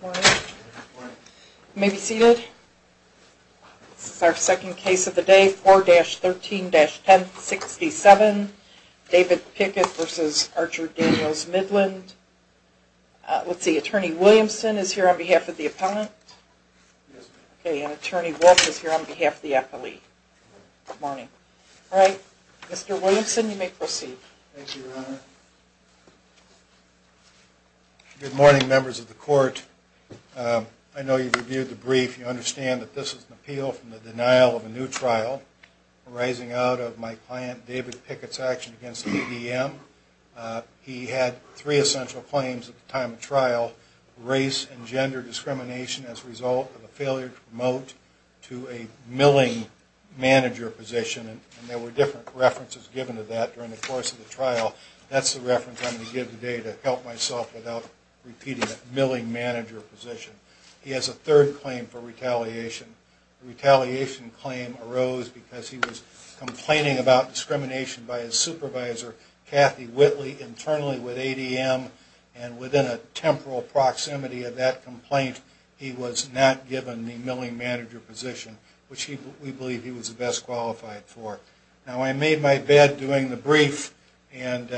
Good morning. You may be seated. This is our second case of the day, 4-13-1067, David Pickett v. Archer-Daniels-Midland. Let's see, Attorney Williamson is here on behalf of the appellant. Yes, ma'am. Okay, and Attorney Wolf is here on behalf of the appellee. Good morning. All right, Mr. Williamson, you may proceed. Thank you, Your Honor. Good morning, members of the court. I know you've reviewed the brief. You understand that this is an appeal from the denial of a new trial arising out of my client David Pickett's action against the EDM. He had three essential claims at the time of trial, race and gender discrimination as a result of a failure to promote to a milling manager position, and there were different references given to that during the course of the trial. That's the reference I'm going to give today to help myself without repeating that milling manager position. He has a third claim for retaliation. The retaliation claim arose because he was complaining about discrimination by his supervisor, Kathy Whitley, internally with ADM, and within a temporal proximity of that complaint, he was not given the milling manager position, which we believe he was best qualified for. Now, I made my bed doing the brief, and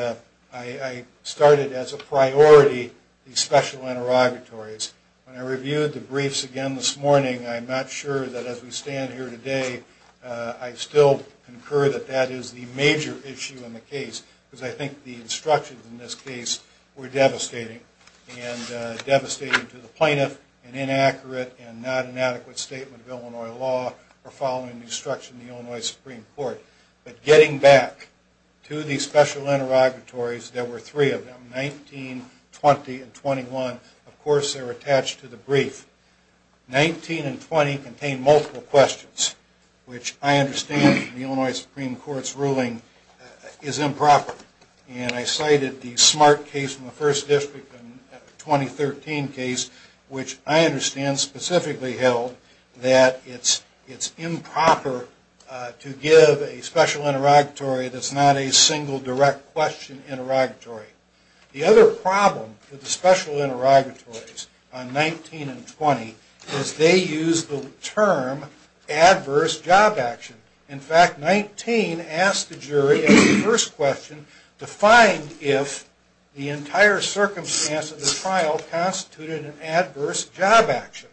I started as a priority the special interrogatories. When I reviewed the briefs again this morning, I'm not sure that as we stand here today, I still concur that that is the major issue in the case, because I think the instructions in this case were devastating, and devastating to the plaintiff, and inaccurate, and not an adequate statement of Illinois law for following the instruction of the Illinois Supreme Court. But getting back to the special interrogatories, there were three of them, 19, 20, and 21. Of course, they were attached to the brief. 19 and 20 contained multiple questions, which I understand the Illinois Supreme Court's ruling is improper, and I cited the Smart case from the First District in the 2013 case, which I understand specifically held that it's improper to give a special interrogatory that's not a single direct question interrogatory. The other problem with the special interrogatories on 19 and 20 is they use the term adverse job action. In fact, 19 asked the jury in the first question to find if the entire circumstance of the trial constituted an adverse job action.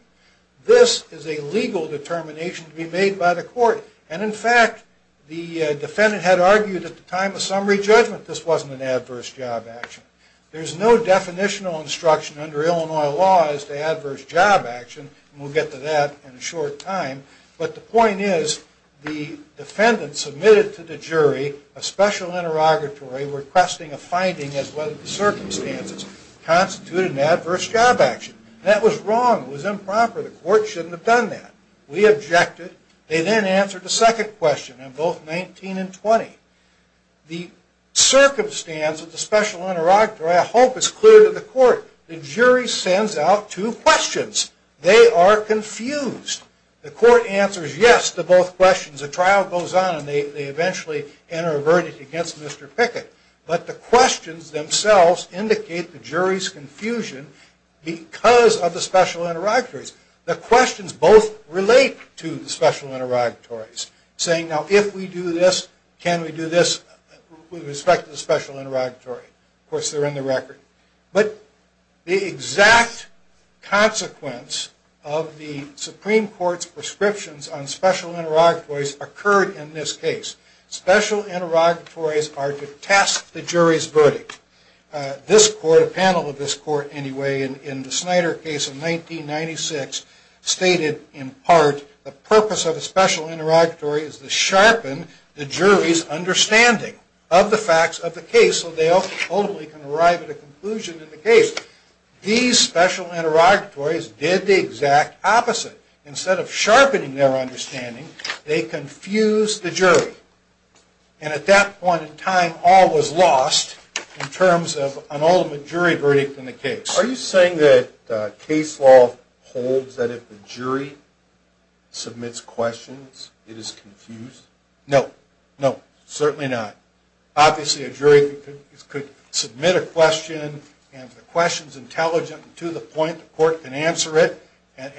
This is a legal determination to be made by the court, and in fact, the defendant had argued at the time of summary judgment this wasn't an adverse job action. There's no definitional instruction under Illinois law as to adverse job action, and we'll get to that in a short time, but the point is the defendant submitted to the jury a special interrogatory requesting a finding as to whether the circumstances constituted an adverse job action. That was wrong. It was improper. The court shouldn't have done that. We objected. They then answered the second question on both 19 and 20. The circumstance of the special interrogatory, I hope, is clear to the court. The jury sends out two questions. They are confused. The court answers yes to both questions. The trial goes on, and they eventually enter a verdict against Mr. Pickett, but the questions themselves indicate the jury's confusion because of the special interrogatories. The questions both relate to the special interrogatories, saying, now, if we do this, can we do this with respect to the special interrogatory? Of course, they're in the record. But the exact consequence of the Supreme Court's prescriptions on special interrogatories occurred in this case. Special interrogatories are to test the jury's verdict. A panel of this court, anyway, in the Snyder case of 1996, stated, in part, the purpose of a special interrogatory is to sharpen the jury's understanding of the facts of the case so they ultimately can arrive at a conclusion in the case. These special interrogatories did the exact opposite. Instead of sharpening their understanding, they confused the jury. And at that point in time, all was lost in terms of an ultimate jury verdict in the case. Are you saying that case law holds that if the jury submits questions, it is confused? No, no, certainly not. Obviously, a jury could submit a question, and if the question's intelligent and to the point, the court can answer it, and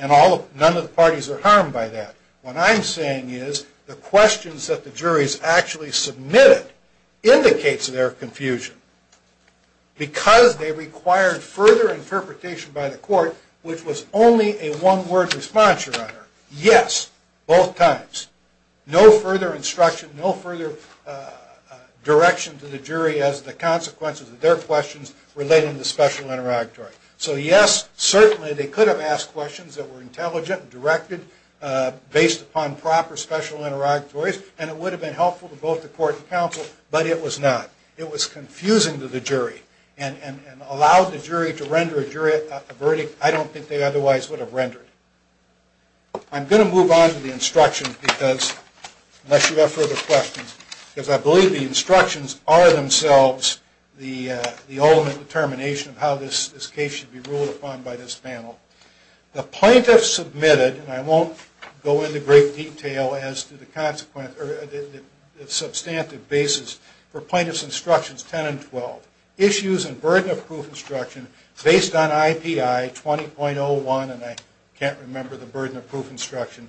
none of the parties are harmed by that. What I'm saying is, the questions that the juries actually submitted indicates their confusion. Because they required further interpretation by the court, which was only a one-word response, Your Honor. Yes, both times. No further instruction, no further direction to the jury as to the consequences of their questions relating to the special interrogatory. So yes, certainly they could have asked questions that were intelligent, directed, based upon proper special interrogatories, and it would have been helpful to both the court and counsel, but it was not. It was confusing to the jury, and allowed the jury to render a verdict I don't think they otherwise would have rendered. I'm going to move on to the instructions because, unless you have further questions, because I believe the instructions are themselves the ultimate determination of how this case should be ruled upon by this panel. The plaintiff submitted, and I won't go into great detail as to the substantive basis for plaintiff's instructions 10 and 12, issues and burden of proof instruction based on IPI 20.01, and I can't remember the burden of proof instruction.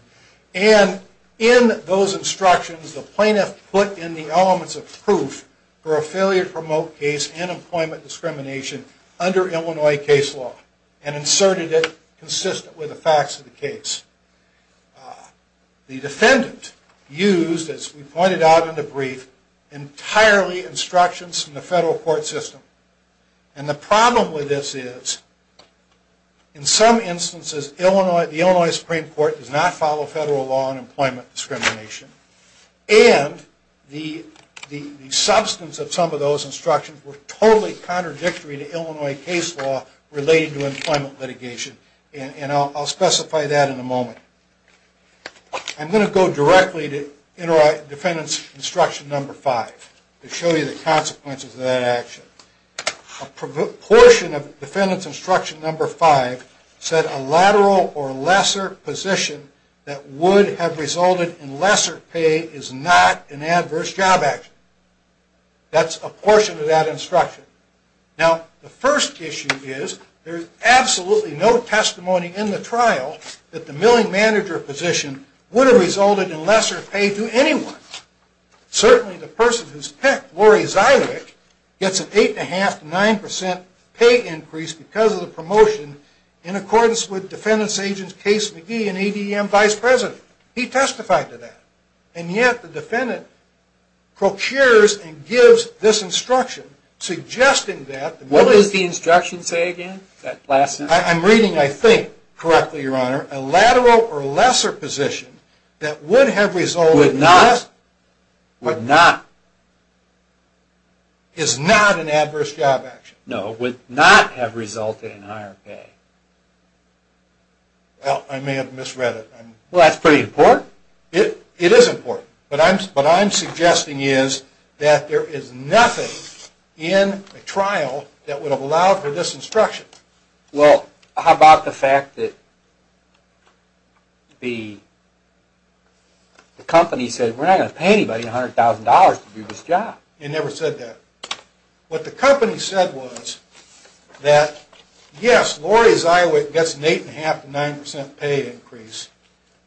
And in those instructions, the plaintiff put in the elements of proof for a failure to promote case and employment discrimination under Illinois case law, and inserted it consistent with the facts of the case. The defendant used, as we pointed out in the brief, entirely instructions from the federal court system. And the problem with this is, in some instances, the Illinois Supreme Court does not follow federal law on employment discrimination, and the substance of some of those instructions were totally contradictory to Illinois case law related to employment litigation, and I'll specify that in a moment. I'm going to go directly to defendant's instruction number five to show you the consequences of that action. A portion of defendant's instruction number five said a lateral or lesser position that would have resulted in lesser pay is not an adverse job action. That's a portion of that instruction. Now, the first issue is, there's absolutely no testimony in the trial that the milling manager position would have resulted in lesser pay to anyone. Certainly the person who's picked, Lori Zywick, gets an eight and a half to nine percent pay increase because of the promotion in accordance with defendant's agents Case McGee and ADM Vice President. He testified to that. And yet the defendant procures and gives this instruction, suggesting that... What does the instruction say again? I'm reading, I think, correctly, your honor, a lateral or lesser position that would have resulted... Would not. Would not. Is not an adverse job action. No, would not have resulted in higher pay. Well, I may have misread it. Well, that's pretty important. It is important. What I'm suggesting is that there is nothing in the trial that would have allowed for this instruction. Well, how about the fact that the company said, we're not going to pay anybody $100,000 to do this job. It never said that. What the company said was that, yes, Lori Zywick gets an eight and a half to nine percent pay increase.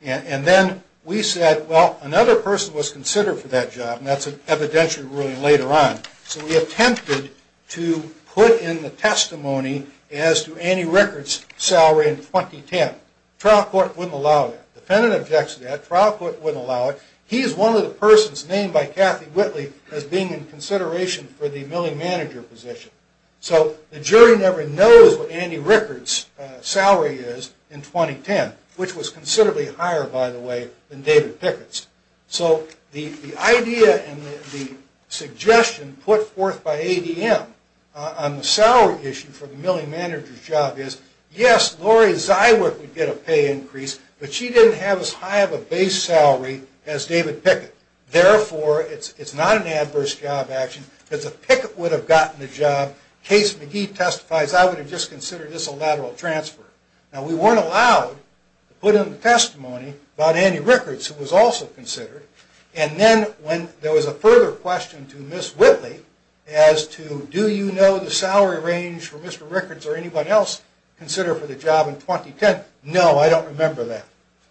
And then we said, well, another person was considered for that job. And that's an evidentiary ruling later on. So we attempted to put in the testimony as to any records salaried in 2010. Trial court wouldn't allow that. Defendant objects to that. Trial court wouldn't allow it. He is one of the persons named by Kathy Whitley as being in consideration for the milling manager position. So the jury never knows what Andy Rickard's salary is in 2010, which was considerably higher, by the way, than David Pickett's. So the idea and the suggestion put forth by ADM on the salary issue for the milling manager's job is, yes, Lori Zywick would get a pay increase, but she didn't have as high of a base salary as David Pickett. Therefore, it's not an adverse job action, because if Pickett would have gotten the job, Case McGee testifies, I would have just considered this a lateral transfer. Now, we weren't allowed to put in the testimony about Andy Rickard's, who was also considered. And then when there was a further question to Ms. Whitley as to do you know the salary range for Mr. Rickards or anyone else considered for the job in 2010, no, I don't remember that.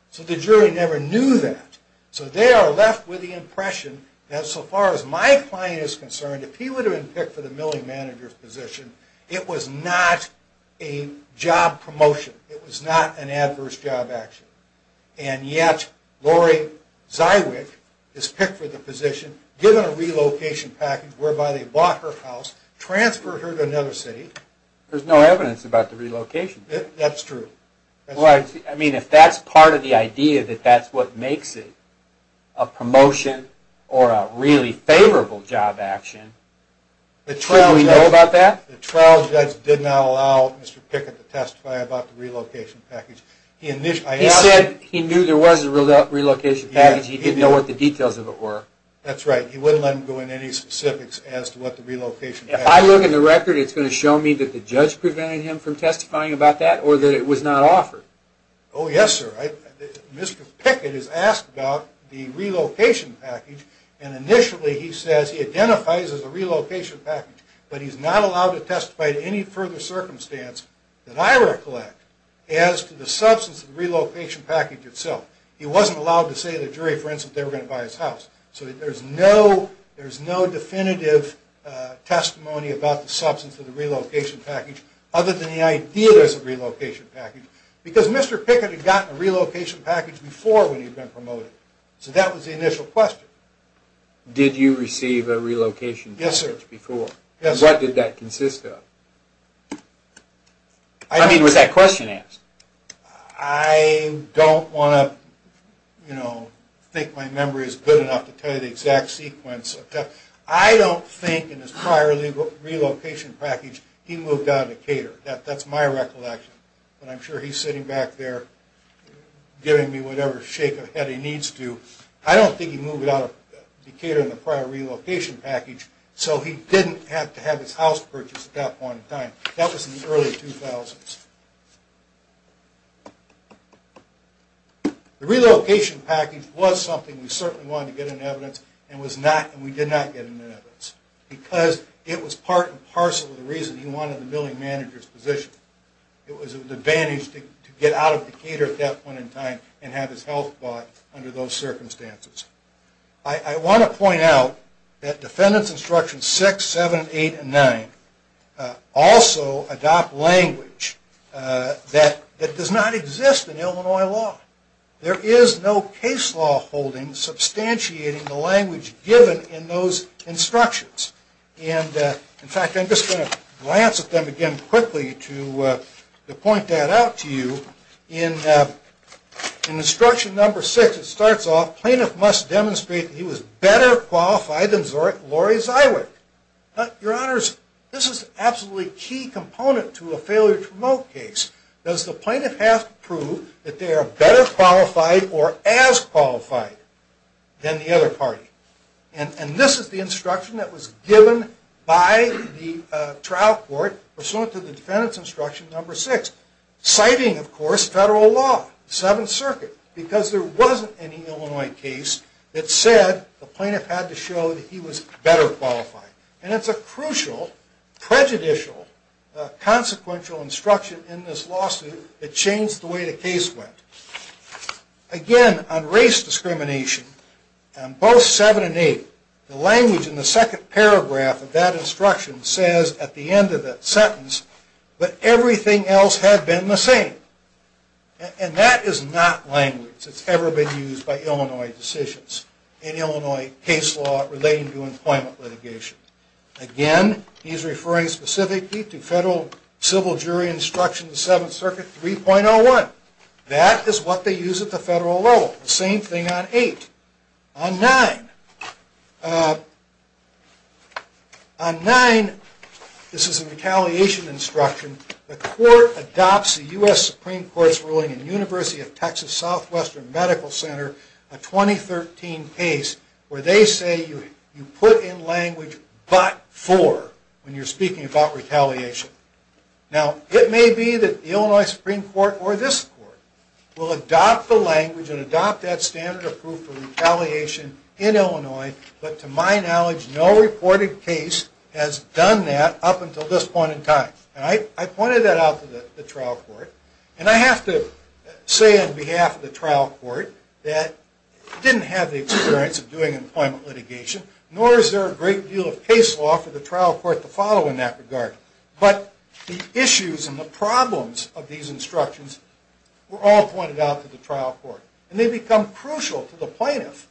So the jury never knew that. So they are left with the impression that so far as my client is concerned, if he would have been picked for the milling manager's position, it was not a job promotion. It was not an adverse job action. And yet, Lori Zywick is picked for the position, given a relocation package, whereby they bought her house, transferred her to another city. There's no evidence about the relocation. That's true. I mean, if that's part of the idea that that's what makes it a promotion or a really favorable job action, should we know about that? The trial judge did not allow Mr. Pickett to testify about the relocation package. He said he knew there was a relocation package. He didn't know what the details of it were. That's right. He wouldn't let him go into any specifics as to what the relocation package was. If I look in the record, it's going to show me that the judge prevented him from testifying about that or that it was not offered. Oh, yes, sir. Mr. Pickett is asked about the relocation package, and initially he says he identifies as a relocation package, but he's not allowed to testify to any further circumstance that I recollect as to the substance of the relocation package itself. He wasn't allowed to say to the jury, for instance, that they were going to buy his house. So there's no definitive testimony about the substance of the relocation package other than the idea there's a relocation package, because Mr. Pickett had gotten a relocation package before when he'd been promoted. So that was the initial question. Did you receive a relocation package before? Yes, sir. What did that consist of? I mean, was that question asked? I don't want to, you know, think my memory is good enough to tell you the exact sequence. I don't think in his prior relocation package he moved out of Decatur. That's my recollection. But I'm sure he's sitting back there giving me whatever shake of head he needs to. I don't think he moved out of Decatur in the prior relocation package, so he didn't have to have his house purchased at that point in time. That was in the early 2000s. The relocation package was something we certainly wanted to get in evidence, and we did not get it in evidence, because it was part and parcel of the reason he wanted the billing manager's position. It was an advantage to get out of Decatur at that point in time and have his health bought under those circumstances. I want to point out that Defendants Instructions 6, 7, 8, and 9 also adopt language that does not exist in Illinois law. There is no case law holding substantiating the language given in those instructions. In fact, I'm just going to glance at them again quickly to point that out to you. In Instruction No. 6, it starts off, Plaintiff must demonstrate that he was better qualified than Lori Zywick. Your Honors, this is an absolutely key component to a failure to promote case. Does the plaintiff have to prove that they are better qualified or as qualified than the other party? This is the instruction that was given by the trial court pursuant to the Defendants Instruction No. 6, citing, of course, federal law, the Seventh Circuit, because there wasn't any Illinois case that said the plaintiff had to show that he was better qualified. And it's a crucial, prejudicial, consequential instruction in this lawsuit that changed the way the case went. Again, on race discrimination, on both 7 and 8, the language in the second paragraph of that instruction says at the end of that sentence, but everything else had been the same. And that is not language that's ever been used by Illinois decisions in Illinois case law relating to employment litigation. Again, he's referring specifically to federal civil jury instruction in the Seventh Circuit 3.01. That is what they use at the federal level. The same thing on 8. On 9, this is a retaliation instruction. The court adopts a U.S. Supreme Court's ruling in University of Texas Southwestern Medical Center, a 2013 case, where they say you put in language but for when you're speaking about retaliation. Now, it may be that the Illinois Supreme Court or this court will adopt the language and adopt that standard of proof for retaliation in Illinois. But to my knowledge, no reported case has done that up until this point in time. And I pointed that out to the trial court. And I have to say on behalf of the trial court that didn't have the experience of doing employment litigation, nor is there a great deal of case law for the trial court to follow in that regard. But the issues and the problems of these instructions were all pointed out to the trial court. And they become crucial to the plaintiff,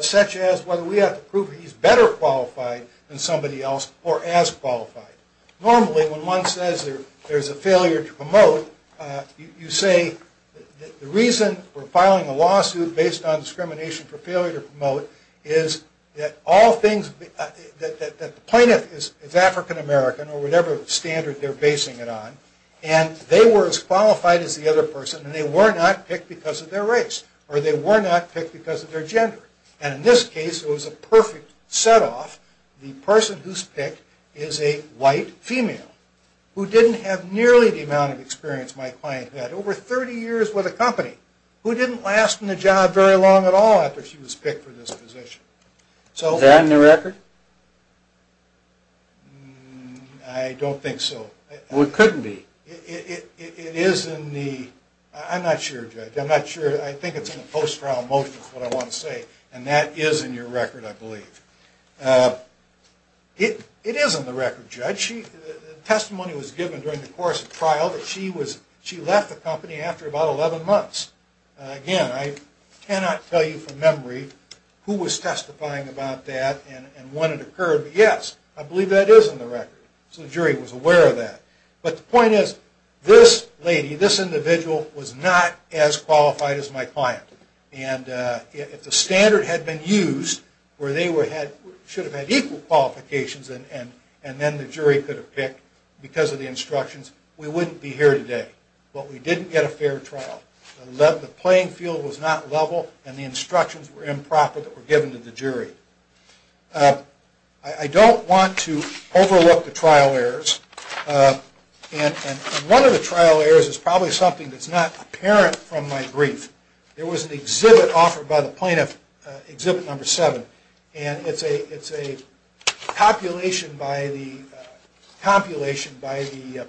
such as whether we have to prove he's better qualified than somebody else or as qualified. Normally, when one says there's a failure to promote, you say the reason for filing a lawsuit based on discrimination for failure to promote is that the plaintiff is African American or whatever standard they're basing it on. And they were as qualified as the other person. And they were not picked because of their race or they were not picked because of their gender. And in this case, it was a perfect set off. The person who's picked is a white female who didn't have nearly the amount of experience my client had. Over 30 years with a company who didn't last in the job very long at all after she was picked for this position. Is that in the record? I don't think so. Well, it couldn't be. It is in the – I'm not sure, Judge. I'm not sure. I think it's in the post-trial motion is what I want to say. And that is in your record, I believe. It is in the record, Judge. The testimony was given during the course of trial that she left the company after about 11 months. Again, I cannot tell you from memory who was testifying about that and when it occurred. But, yes, I believe that is in the record. So the jury was aware of that. But the point is this lady, this individual, was not as qualified as my client. And if the standard had been used where they should have had equal qualifications and then the jury could have picked because of the instructions, we wouldn't be here today. But we didn't get a fair trial. The playing field was not level and the instructions were improper that were given to the jury. I don't want to overlook the trial errors. And one of the trial errors is probably something that's not apparent from my brief. There was an exhibit offered by the plaintiff, exhibit number seven. And it's a compilation by the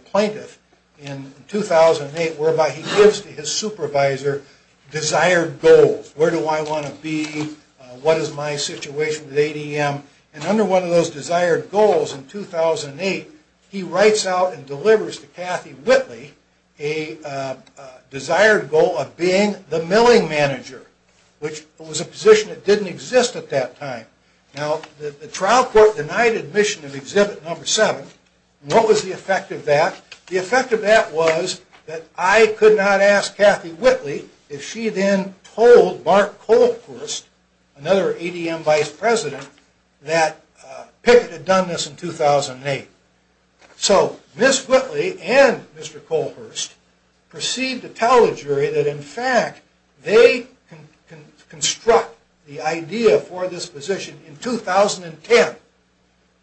plaintiff in 2008 whereby he gives to his supervisor desired goals. Where do I want to be? What is my situation with ADM? And under one of those desired goals in 2008, he writes out and delivers to Kathy Whitley a desired goal of being the milling manager. Which was a position that didn't exist at that time. Now the trial court denied admission of exhibit number seven. What was the effect of that? The effect of that was that I could not ask Kathy Whitley if she then told Mark Kohlhurst, another ADM vice president, that Pickett had done this in 2008. So Ms. Whitley and Mr. Kohlhurst perceived to tell the jury that in fact they construct the idea for this position in 2010.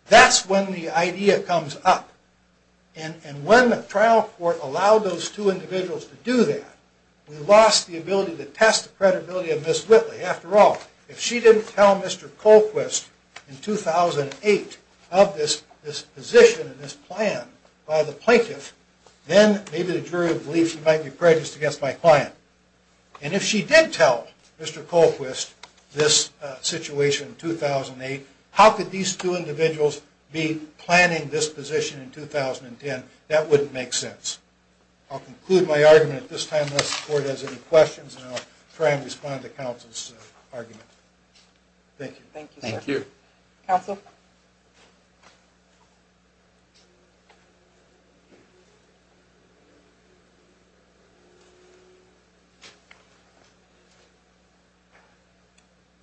That's when the idea comes up. And when the trial court allowed those two individuals to do that, we lost the ability to test the credibility of Ms. Whitley. After all, if she didn't tell Mr. Kohlhurst in 2008 of this position and this plan by the plaintiff, then maybe the jury would believe she might be prejudiced against my client. And if she did tell Mr. Kohlhurst this situation in 2008, how could these two individuals be planning this position in 2010? That wouldn't make sense. I'll conclude my argument at this time. Unless the court has any questions, I'll try and respond to counsel's argument. Thank you. Thank you. Counsel?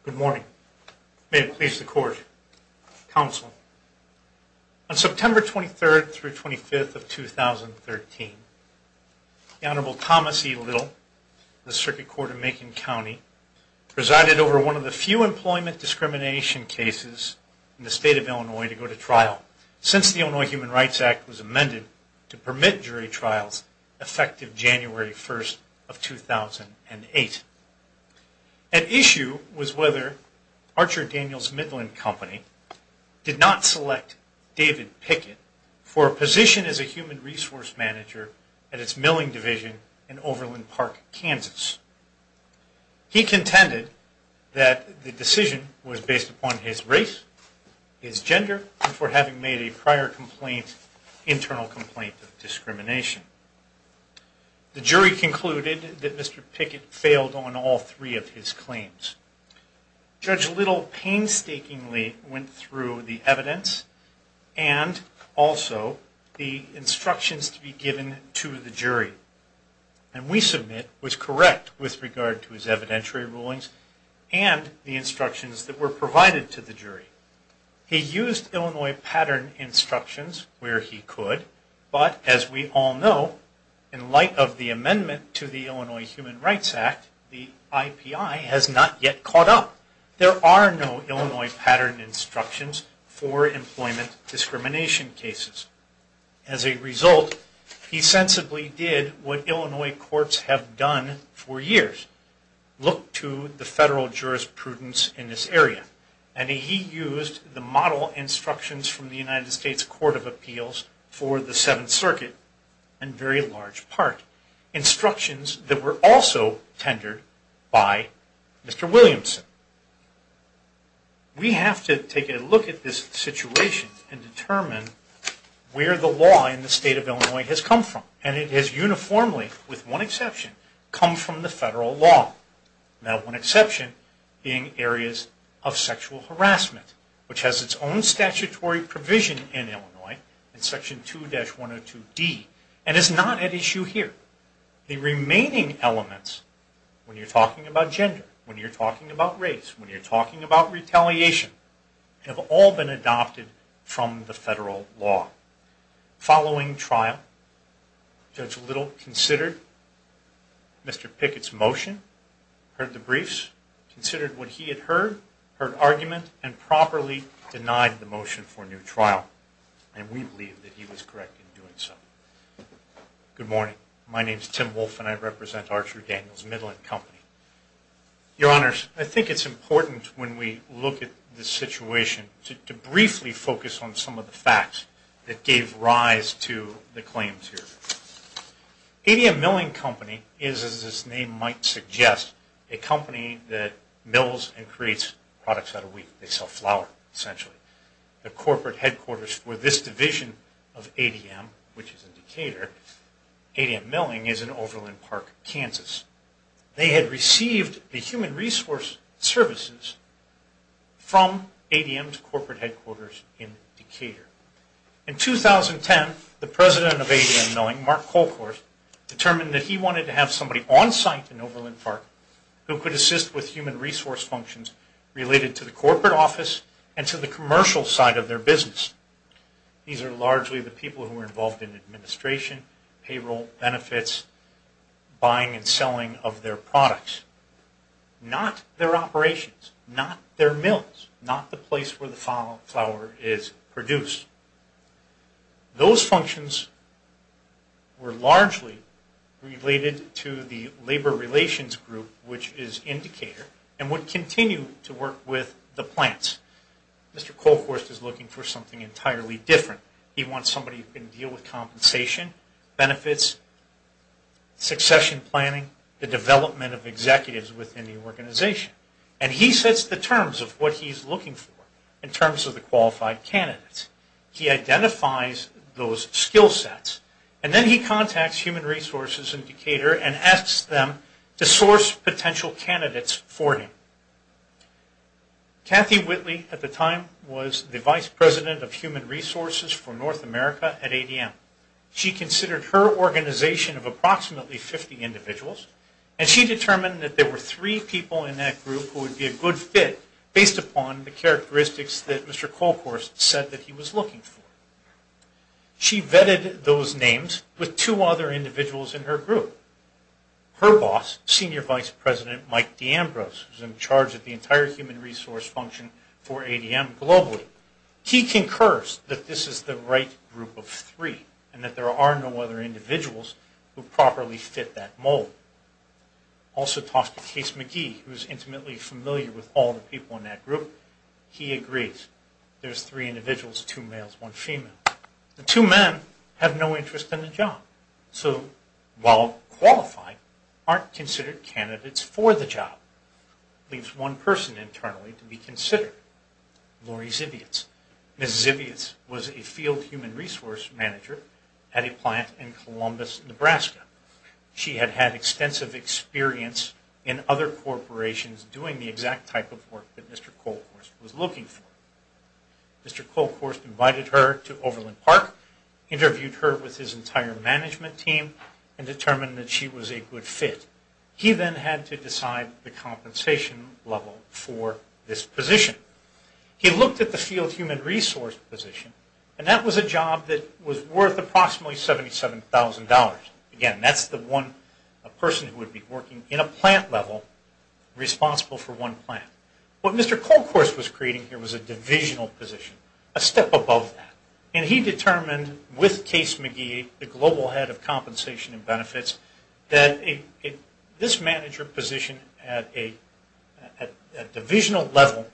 Good morning. May it please the court. Counsel. On September 23rd through 25th of 2013, the Honorable Thomas E. Little of the Circuit Court of Macon County presided over one of the few employment discrimination cases in the state of Illinois to go to trial since the Illinois Human Rights Act was amended to permit jury trials effective January 1st of 2008. An issue was whether Archer Daniels Midland Company did not select David Pickett for a position as a human resource manager at its milling division in Overland Park, Kansas. He contended that the decision was based upon his race, his gender, and for having made a prior internal complaint of discrimination. The jury concluded that Mr. Pickett failed on all three of his claims. Judge Little painstakingly went through the evidence and also the instructions to be given to the jury. And we submit was correct with regard to his evidentiary rulings and the instructions that were provided to the jury. He used Illinois pattern instructions where he could, but as we all know, in light of the amendment to the Illinois Human Rights Act, the IPI has not yet caught up. There are no Illinois pattern instructions for employment discrimination cases. As a result, he sensibly did what Illinois courts have done for years, look to the federal jurisprudence in this area. And he used the model instructions from the United States Court of Appeals for the Seventh Circuit in very large part. Instructions that were also tendered by Mr. Williamson. We have to take a look at this situation and determine where the law in the state of Illinois has come from. And it has uniformly, with one exception, come from the federal law. Now one exception being areas of sexual harassment, which has its own statutory provision in Illinois, in section 2-102D, and is not at issue here. The remaining elements, when you're talking about gender, when you're talking about race, when you're talking about retaliation, have all been adopted from the federal law. Following trial, Judge Little considered Mr. Pickett's motion, heard the briefs, considered what he had heard, heard argument, and properly denied the motion for a new trial. And we believe that he was correct in doing so. Good morning, my name is Tim Wolfe and I represent Archer Daniels Midland Company. Your Honors, I think it's important when we look at this situation, to briefly focus on some of the facts that gave rise to the claims here. ADM Milling Company, as its name might suggest, a company that mills and creates products out of wheat. They sell flour, essentially. The corporate headquarters for this division of ADM, which is in Decatur, ADM Milling is in Overland Park, Kansas. They had received the human resource services from ADM's corporate headquarters in Decatur. In 2010, the president of ADM Milling, Mark Colcourt, determined that he wanted to have somebody on site in Overland Park who could assist with human resource functions related to the corporate office and to the commercial side of their business. These are largely the people who are involved in administration, payroll, benefits, buying and selling of their products. Not their operations, not their mills, not the place where the flour is produced. Those functions were largely related to the labor relations group, which is in Decatur, and would continue to work with the plants. Mr. Colcourt is looking for something entirely different. He wants somebody who can deal with compensation, benefits, succession planning, the development of executives within the organization. And he sets the terms of what he's looking for in terms of the qualified candidates. He identifies those skill sets, and then he contacts human resources in Decatur and asks them to source potential candidates for him. Kathy Whitley, at the time, was the vice president of human resources for North America at ADM. She considered her organization of approximately 50 individuals, and she determined that there were three people in that group who would be a good fit based upon the characteristics that Mr. Colcourt said that he was looking for. She vetted those names with two other individuals in her group. Her boss, Senior Vice President Mike D'Ambrose, who's in charge of the entire human resource function for ADM globally, he concurs that this is the right group of three and that there are no other individuals who properly fit that mold. Also talks with Case McGee, who's intimately familiar with all the people in that group. He agrees. There's three individuals, two males, one female. The two men have no interest in the job. So, while qualified, aren't considered candidates for the job. Leaves one person internally to be considered. Lori Zibiotz. Ms. Zibiotz was a field human resource manager at a plant in Columbus, Nebraska. She had had extensive experience in other corporations doing the exact type of work that Mr. Colcourt was looking for. Mr. Colcourt invited her to Overland Park, interviewed her with his entire management team, and determined that she was a good fit. He then had to decide the compensation level for this position. He looked at the field human resource position, and that was a job that was worth approximately $77,000. Again, that's the one person who would be working in a plant level, responsible for one plant. What Mr. Colcourt was creating here was a divisional position, a step above that. He determined, with Case McGee, the global head of compensation and benefits, that this manager position at a divisional level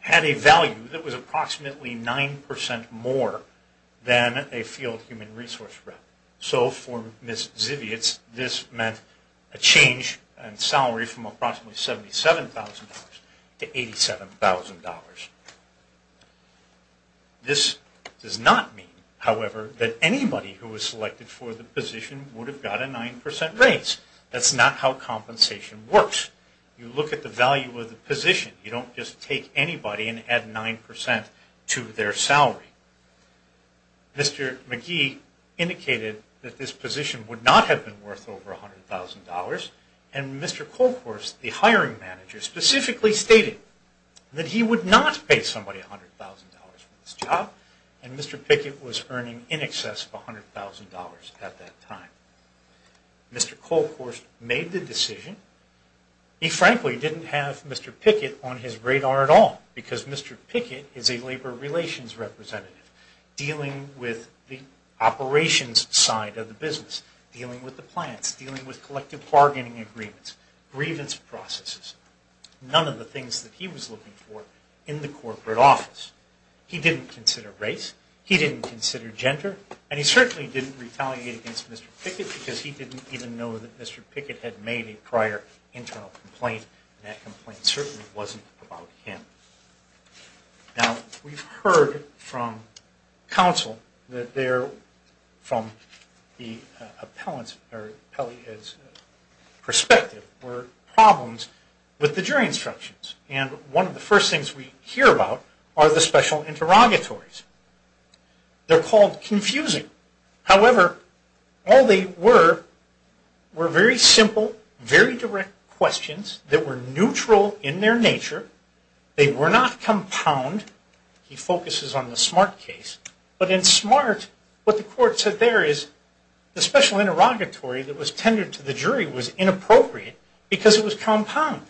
had a value that was approximately 9% more than a field human resource rep. So, for Ms. Zibiotz, this meant a change in salary from approximately $77,000 to $87,000. This does not mean, however, that anybody who was selected for the position would have got a 9% raise. That's not how compensation works. You look at the value of the position. You don't just take anybody and add 9% to their salary. Mr. McGee indicated that this position would not have been worth over $100,000, and Mr. Colcourt, the hiring manager, specifically stated that he would not pay somebody $100,000 for this job, and Mr. Pickett was earning in excess of $100,000 at that time. Mr. Colcourt made the decision. He, frankly, didn't have Mr. Pickett on his radar at all, because Mr. Pickett is a labor relations representative, dealing with the operations side of the business, dealing with the plants, dealing with collective bargaining agreements, grievance processes, none of the things that he was looking for in the corporate office. He didn't consider race, he didn't consider gender, and he certainly didn't retaliate against Mr. Pickett because he didn't even know that Mr. Pickett had made a prior internal complaint, and that complaint certainly wasn't about him. Now, we've heard from counsel that there, from the appellant's perspective, were problems with the jury instructions, and one of the first things we hear about are the special interrogatories. They're called confusing. However, all they were were very simple, very direct questions that were neutral in their nature. They were not compound. He focuses on the Smart case. But in Smart, what the court said there is, the special interrogatory that was tendered to the jury was inappropriate because it was compound.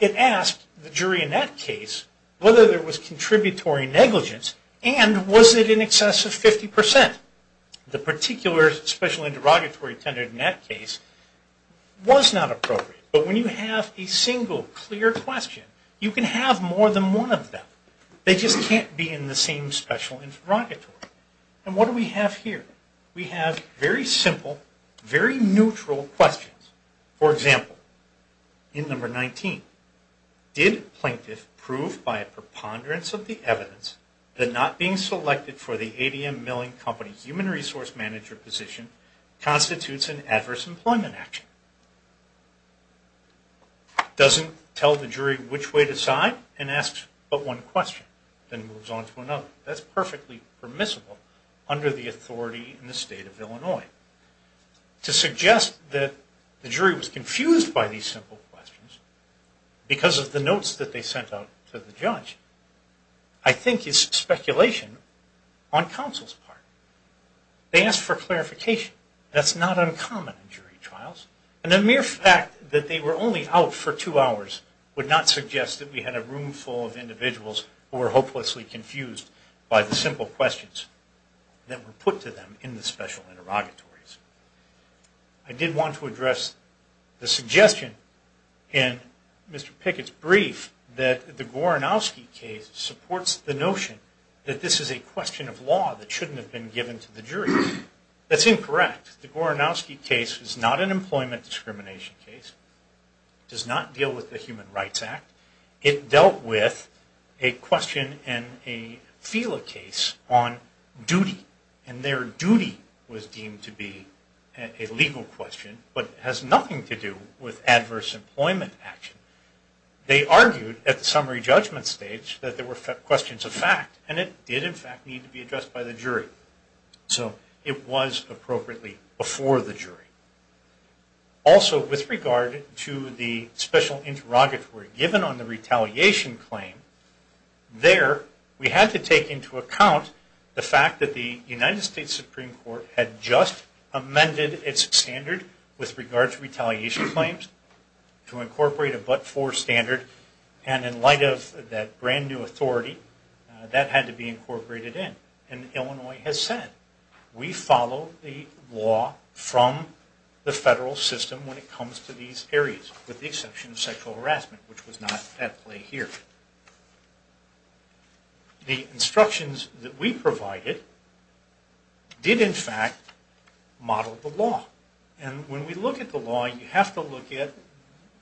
It asked the jury in that case whether there was contributory negligence and was it in excess of 50%. The particular special interrogatory tendered in that case was not appropriate. But when you have a single, clear question, you can have more than one of them. They just can't be in the same special interrogatory. And what do we have here? We have very simple, very neutral questions. For example, in number 19, did Plaintiff prove by a preponderance of the evidence that not being selected for the ADM Milling Company Human Resource Manager position constitutes an adverse employment action? Doesn't tell the jury which way to side and asks but one question and then moves on to another. That's perfectly permissible under the authority in the state of Illinois. To suggest that the jury was confused by these simple questions because of the notes that they sent out to the judge, I think is speculation on counsel's part. They asked for clarification. That's not uncommon in jury trials. And the mere fact that they were only out for two hours would not suggest that we had a room full of individuals who were hopelessly confused by the simple questions that were put to them in the special interrogatories. I did want to address the suggestion in Mr. Pickett's brief that the Goranowski case supports the notion that this is a question of law that shouldn't have been given to the jury. That's incorrect. The Goranowski case is not an employment discrimination case. It does not deal with the Human Rights Act. It dealt with a question in a FELA case on duty. And their duty was deemed to be a legal question but has nothing to do with adverse employment action. They argued at the summary judgment stage that there were questions of fact and it did, in fact, need to be addressed by the jury. So it was appropriately before the jury. Also, with regard to the special interrogatory given on the retaliation claim, there we had to take into account the fact that the United States Supreme Court had just amended its standard with regard to retaliation claims to incorporate a but-for standard. And in light of that brand-new authority, that had to be incorporated in. And Illinois has said, we follow the law from the federal system when it comes to these areas, with the exception of sexual harassment, which was not at play here. The instructions that we provided did, in fact, model the law. And when we look at the law, you have to look at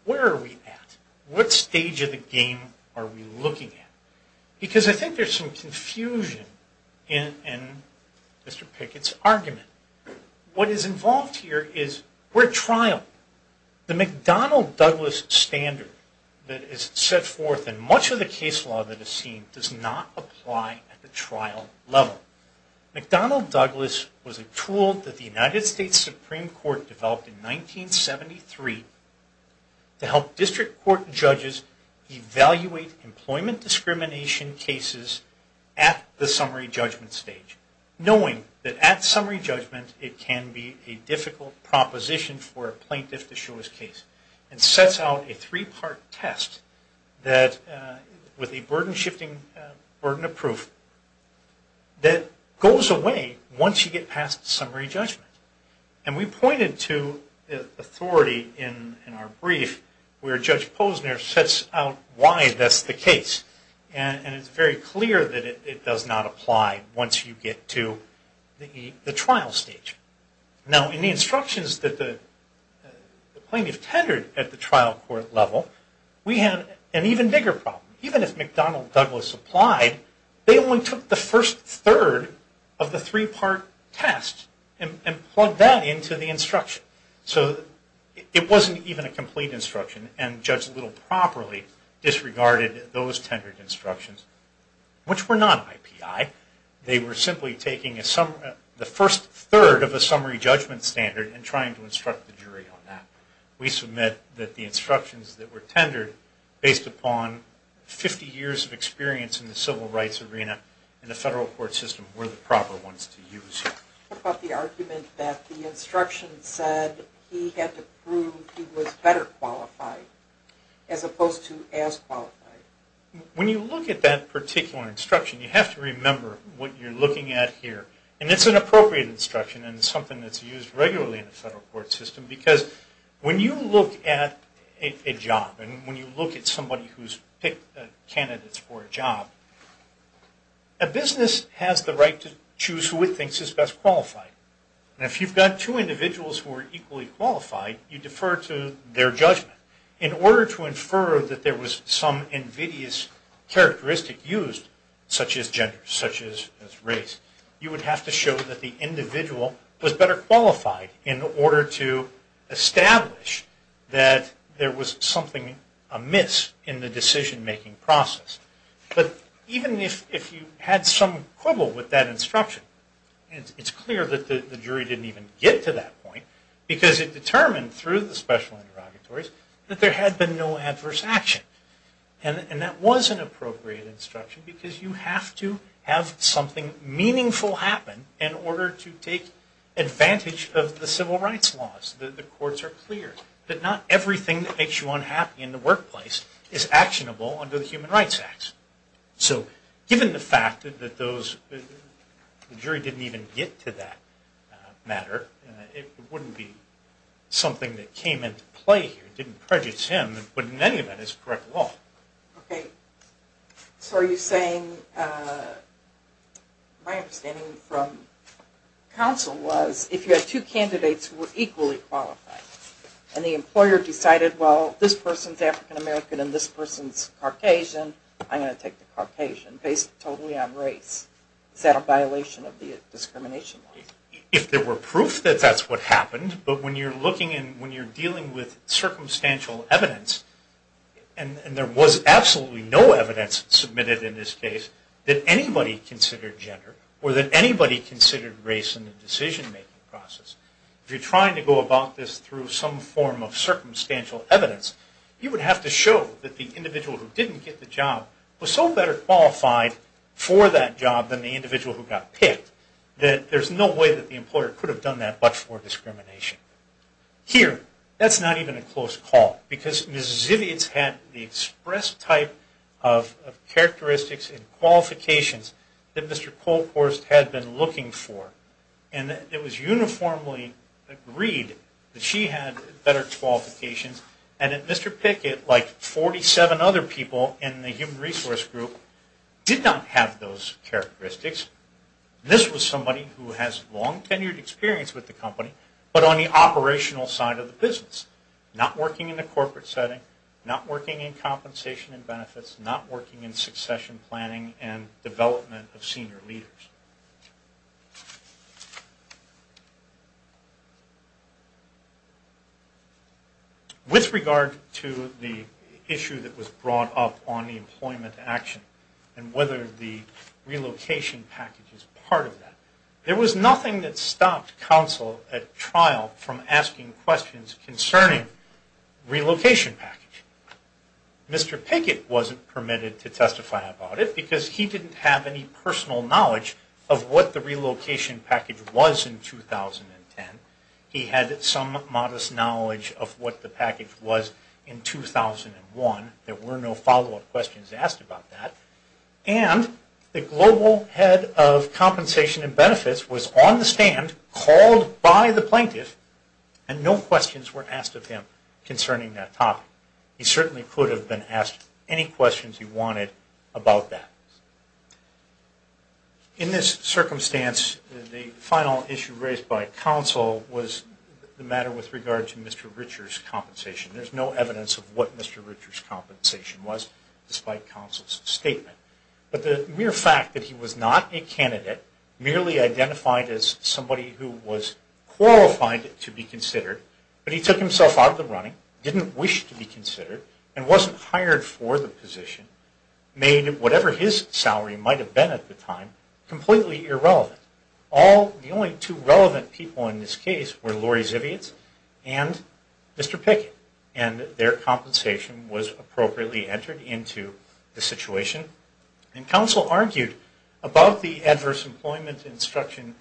where are we at? What stage of the game are we looking at? Because I think there's some confusion in Mr. Pickett's argument. What is involved here is we're at trial. The McDonnell-Douglas standard that is set forth in much of the case law that is seen does not apply at the trial level. McDonnell-Douglas was a tool that the United States Supreme Court developed in 1973 to help district court judges evaluate employment discrimination cases at the summary judgment stage, knowing that at summary judgment it can be a difficult proposition for a plaintiff to show his case. It sets out a three-part test that, with a burden-shifting burden of proof, that goes away once you get past summary judgment. And we pointed to the authority in our brief where Judge Posner sets out why that's the case. And it's very clear that it does not apply once you get to the trial stage. Now, in the instructions that the plaintiff tendered at the trial court level, we had an even bigger problem. Even if McDonnell-Douglas applied, they only took the first third of the three-part test and plugged that into the instruction. So it wasn't even a complete instruction, and Judge Little properly disregarded those tendered instructions, which were not IPI. They were simply taking the first third of a summary judgment standard and trying to instruct the jury on that. We submit that the instructions that were tendered, based upon 50 years of experience in the civil rights arena in the federal court system, were the proper ones to use. What about the argument that the instruction said he had to prove he was better qualified, as opposed to as qualified? When you look at that particular instruction, you have to remember what you're looking at here. And it's an appropriate instruction, and it's something that's used regularly in the federal court system because when you look at a job, and when you look at somebody who's picked candidates for a job, a business has the right to choose who it thinks is best qualified. And if you've got two individuals who are equally qualified, you defer to their judgment. In order to infer that there was some invidious characteristic used, such as gender, such as race, you would have to show that the individual was better qualified in order to establish that there was something amiss in the decision-making process. But even if you had some quibble with that instruction, it's clear that the jury didn't even get to that point because it determined through the special interrogatories that there had been no adverse action. And that was an appropriate instruction because you have to have something meaningful happen in order to take advantage of the civil rights laws. The courts are clear that not everything that makes you unhappy in the workplace is actionable under the Human Rights Act. So given the fact that the jury didn't even get to that matter, it wouldn't be something that came into play here, didn't prejudice him, and wouldn't in any event is correct at all. Okay. So are you saying... My understanding from counsel was if you had two candidates who were equally qualified and the employer decided, well, this person's African American and this person's Caucasian, I'm going to take the Caucasian based totally on race, is that a violation of the discrimination laws? If there were proof that that's what happened, but when you're looking and when you're dealing with circumstantial evidence and there was absolutely no evidence submitted in this case that anybody considered gender or that anybody considered race in the decision-making process, if you're trying to go about this through some form of circumstantial evidence, you would have to show that the individual who didn't get the job was so better qualified for that job than the individual who got picked that there's no way that the employer could have done that but for discrimination. Here, that's not even a close call because Ms. Zivitz had the express type of characteristics and qualifications that Mr. Kolkhorst had been looking for and it was uniformly agreed that she had better qualifications and that Mr. Pickett, like 47 other people in the human resource group, did not have those characteristics. This was somebody who has long tenured experience with the company but on the operational side of the business, not working in the corporate setting, not working in compensation and benefits, not working in succession planning and development of senior leaders. With regard to the issue that was brought up on the employment action and whether the relocation package is part of that, there was nothing that stopped counsel at trial from asking questions concerning the relocation package. Mr. Pickett wasn't permitted to testify about it because he didn't have any personal knowledge of what the relocation package was in 2010. He had some modest knowledge of what the package was in 2001. There were no follow-up questions asked about that. And the global head of compensation and benefits was on the stand, called by the plaintiff, and no questions were asked of him concerning that topic. He certainly could have been asked any questions he wanted about that. In this circumstance, the final issue raised by counsel was the matter with regard to Mr. Richard's compensation. There's no evidence of what Mr. Richard's compensation was, despite counsel's statement. But the mere fact that he was not a candidate, merely identified as somebody who was qualified to be considered, but he took himself out of the running, didn't wish to be considered, and wasn't hired for the position, made whatever his salary might have been at the time completely irrelevant. The only two relevant people in this case were Lori Zivitz and Mr. Pickett, and their compensation was appropriately entered into the situation. And counsel argued about the adverse employment instruction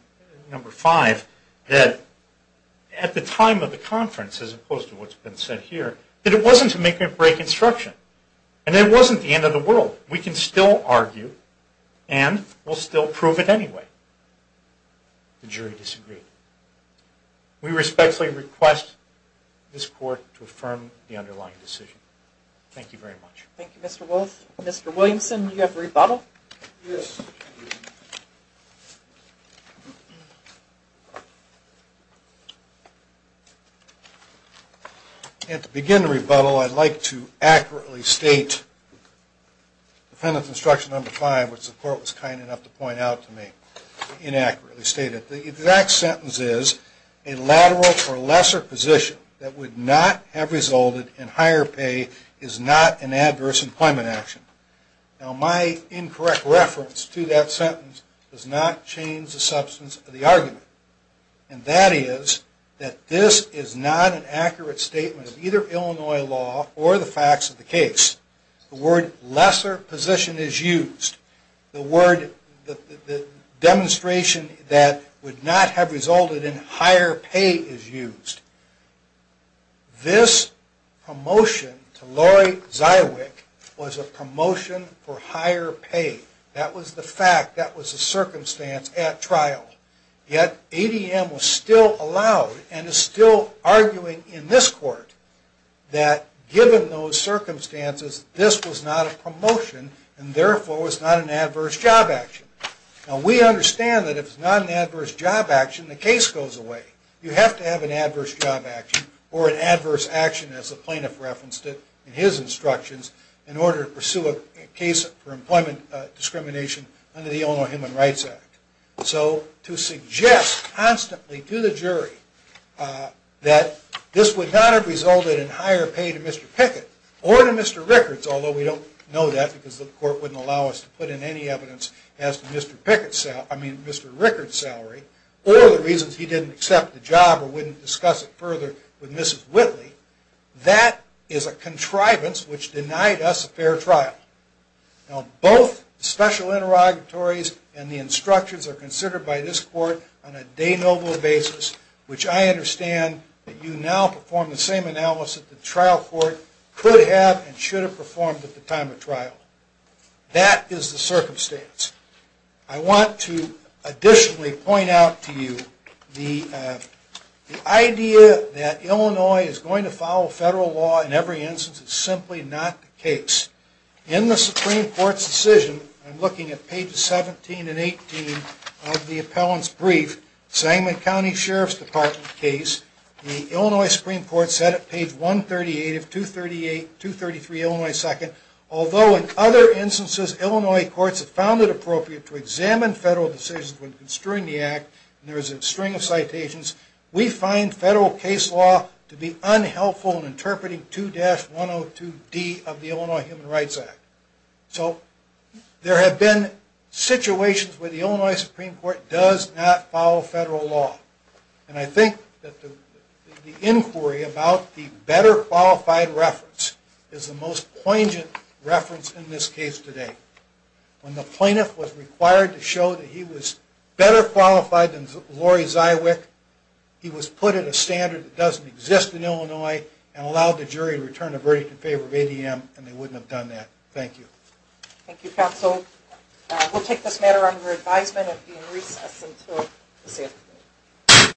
number five, that at the time of the conference, as opposed to what's been said here, that it wasn't to make or break instruction. And it wasn't the end of the world. We can still argue and we'll still prove it anyway. The jury disagreed. We respectfully request this court to affirm the underlying decision. Thank you very much. Thank you, Mr. Wolf. Mr. Williamson, do you have a rebuttal? Yes. And to begin the rebuttal, I'd like to accurately state defendant's instruction number five, which the court was kind enough to point out to me, inaccurately stated. The exact sentence is, a lateral or lesser position that would not have resulted in higher pay is not an adverse employment action. Now, my incorrect reference to that sentence does not change the substance of the argument. And that is that this is not an accurate statement of either Illinois law or the facts of the case. The word lesser position is used. The demonstration that would not have resulted in higher pay is used. This promotion to Lori Zywick was a promotion for higher pay. That was the fact. That was the circumstance at trial. Yet ADM was still allowed and is still arguing in this court that given those circumstances, this was not a promotion and therefore was not an adverse job action. Now, we understand that if it's not an adverse job action, the case goes away. You have to have an adverse job action or an adverse action as the plaintiff referenced in his instructions in order to pursue a case for employment discrimination under the Illinois Human Rights Act. So to suggest constantly to the jury that this would not have resulted in higher pay to Mr. Pickett or to Mr. Rickards, although we don't know that because the court wouldn't allow us to put in any evidence as to Mr. Rickards' salary or the reasons he didn't accept the job or wouldn't discuss it further with Mrs. Whitley, that is a contrivance which denied us a fair trial. Now, both special interrogatories and the instructions are considered by this court on a de novo basis, which I understand that you now perform the same analysis that the trial court could have and should have performed at the time of trial. That is the circumstance. I want to additionally point out to you the idea that Illinois is going to follow federal law in every instance is simply not the case. In the Supreme Court's decision, I'm looking at pages 17 and 18 of the appellant's brief, the Sangamon County Sheriff's Department case, the Illinois Supreme Court said at page 138 of 233 Illinois 2nd, although in other instances, Illinois courts have found it appropriate to examine federal decisions when construing the act, and there is a string of citations, we find federal case law to be unhelpful in interpreting 2-102D of the Illinois Human Rights Act. So there have been situations where the Illinois Supreme Court does not follow federal law. And I think that the inquiry about the better qualified reference is the most poignant reference in this case today. When the plaintiff was required to show that he was better qualified than Lori Zywick, he was put at a standard that doesn't exist in Illinois and allowed the jury to return a verdict in favor of ADM and they wouldn't have done that. Thank you. Thank you, counsel. We'll take this matter under advisement and have it be in recess until the same thing.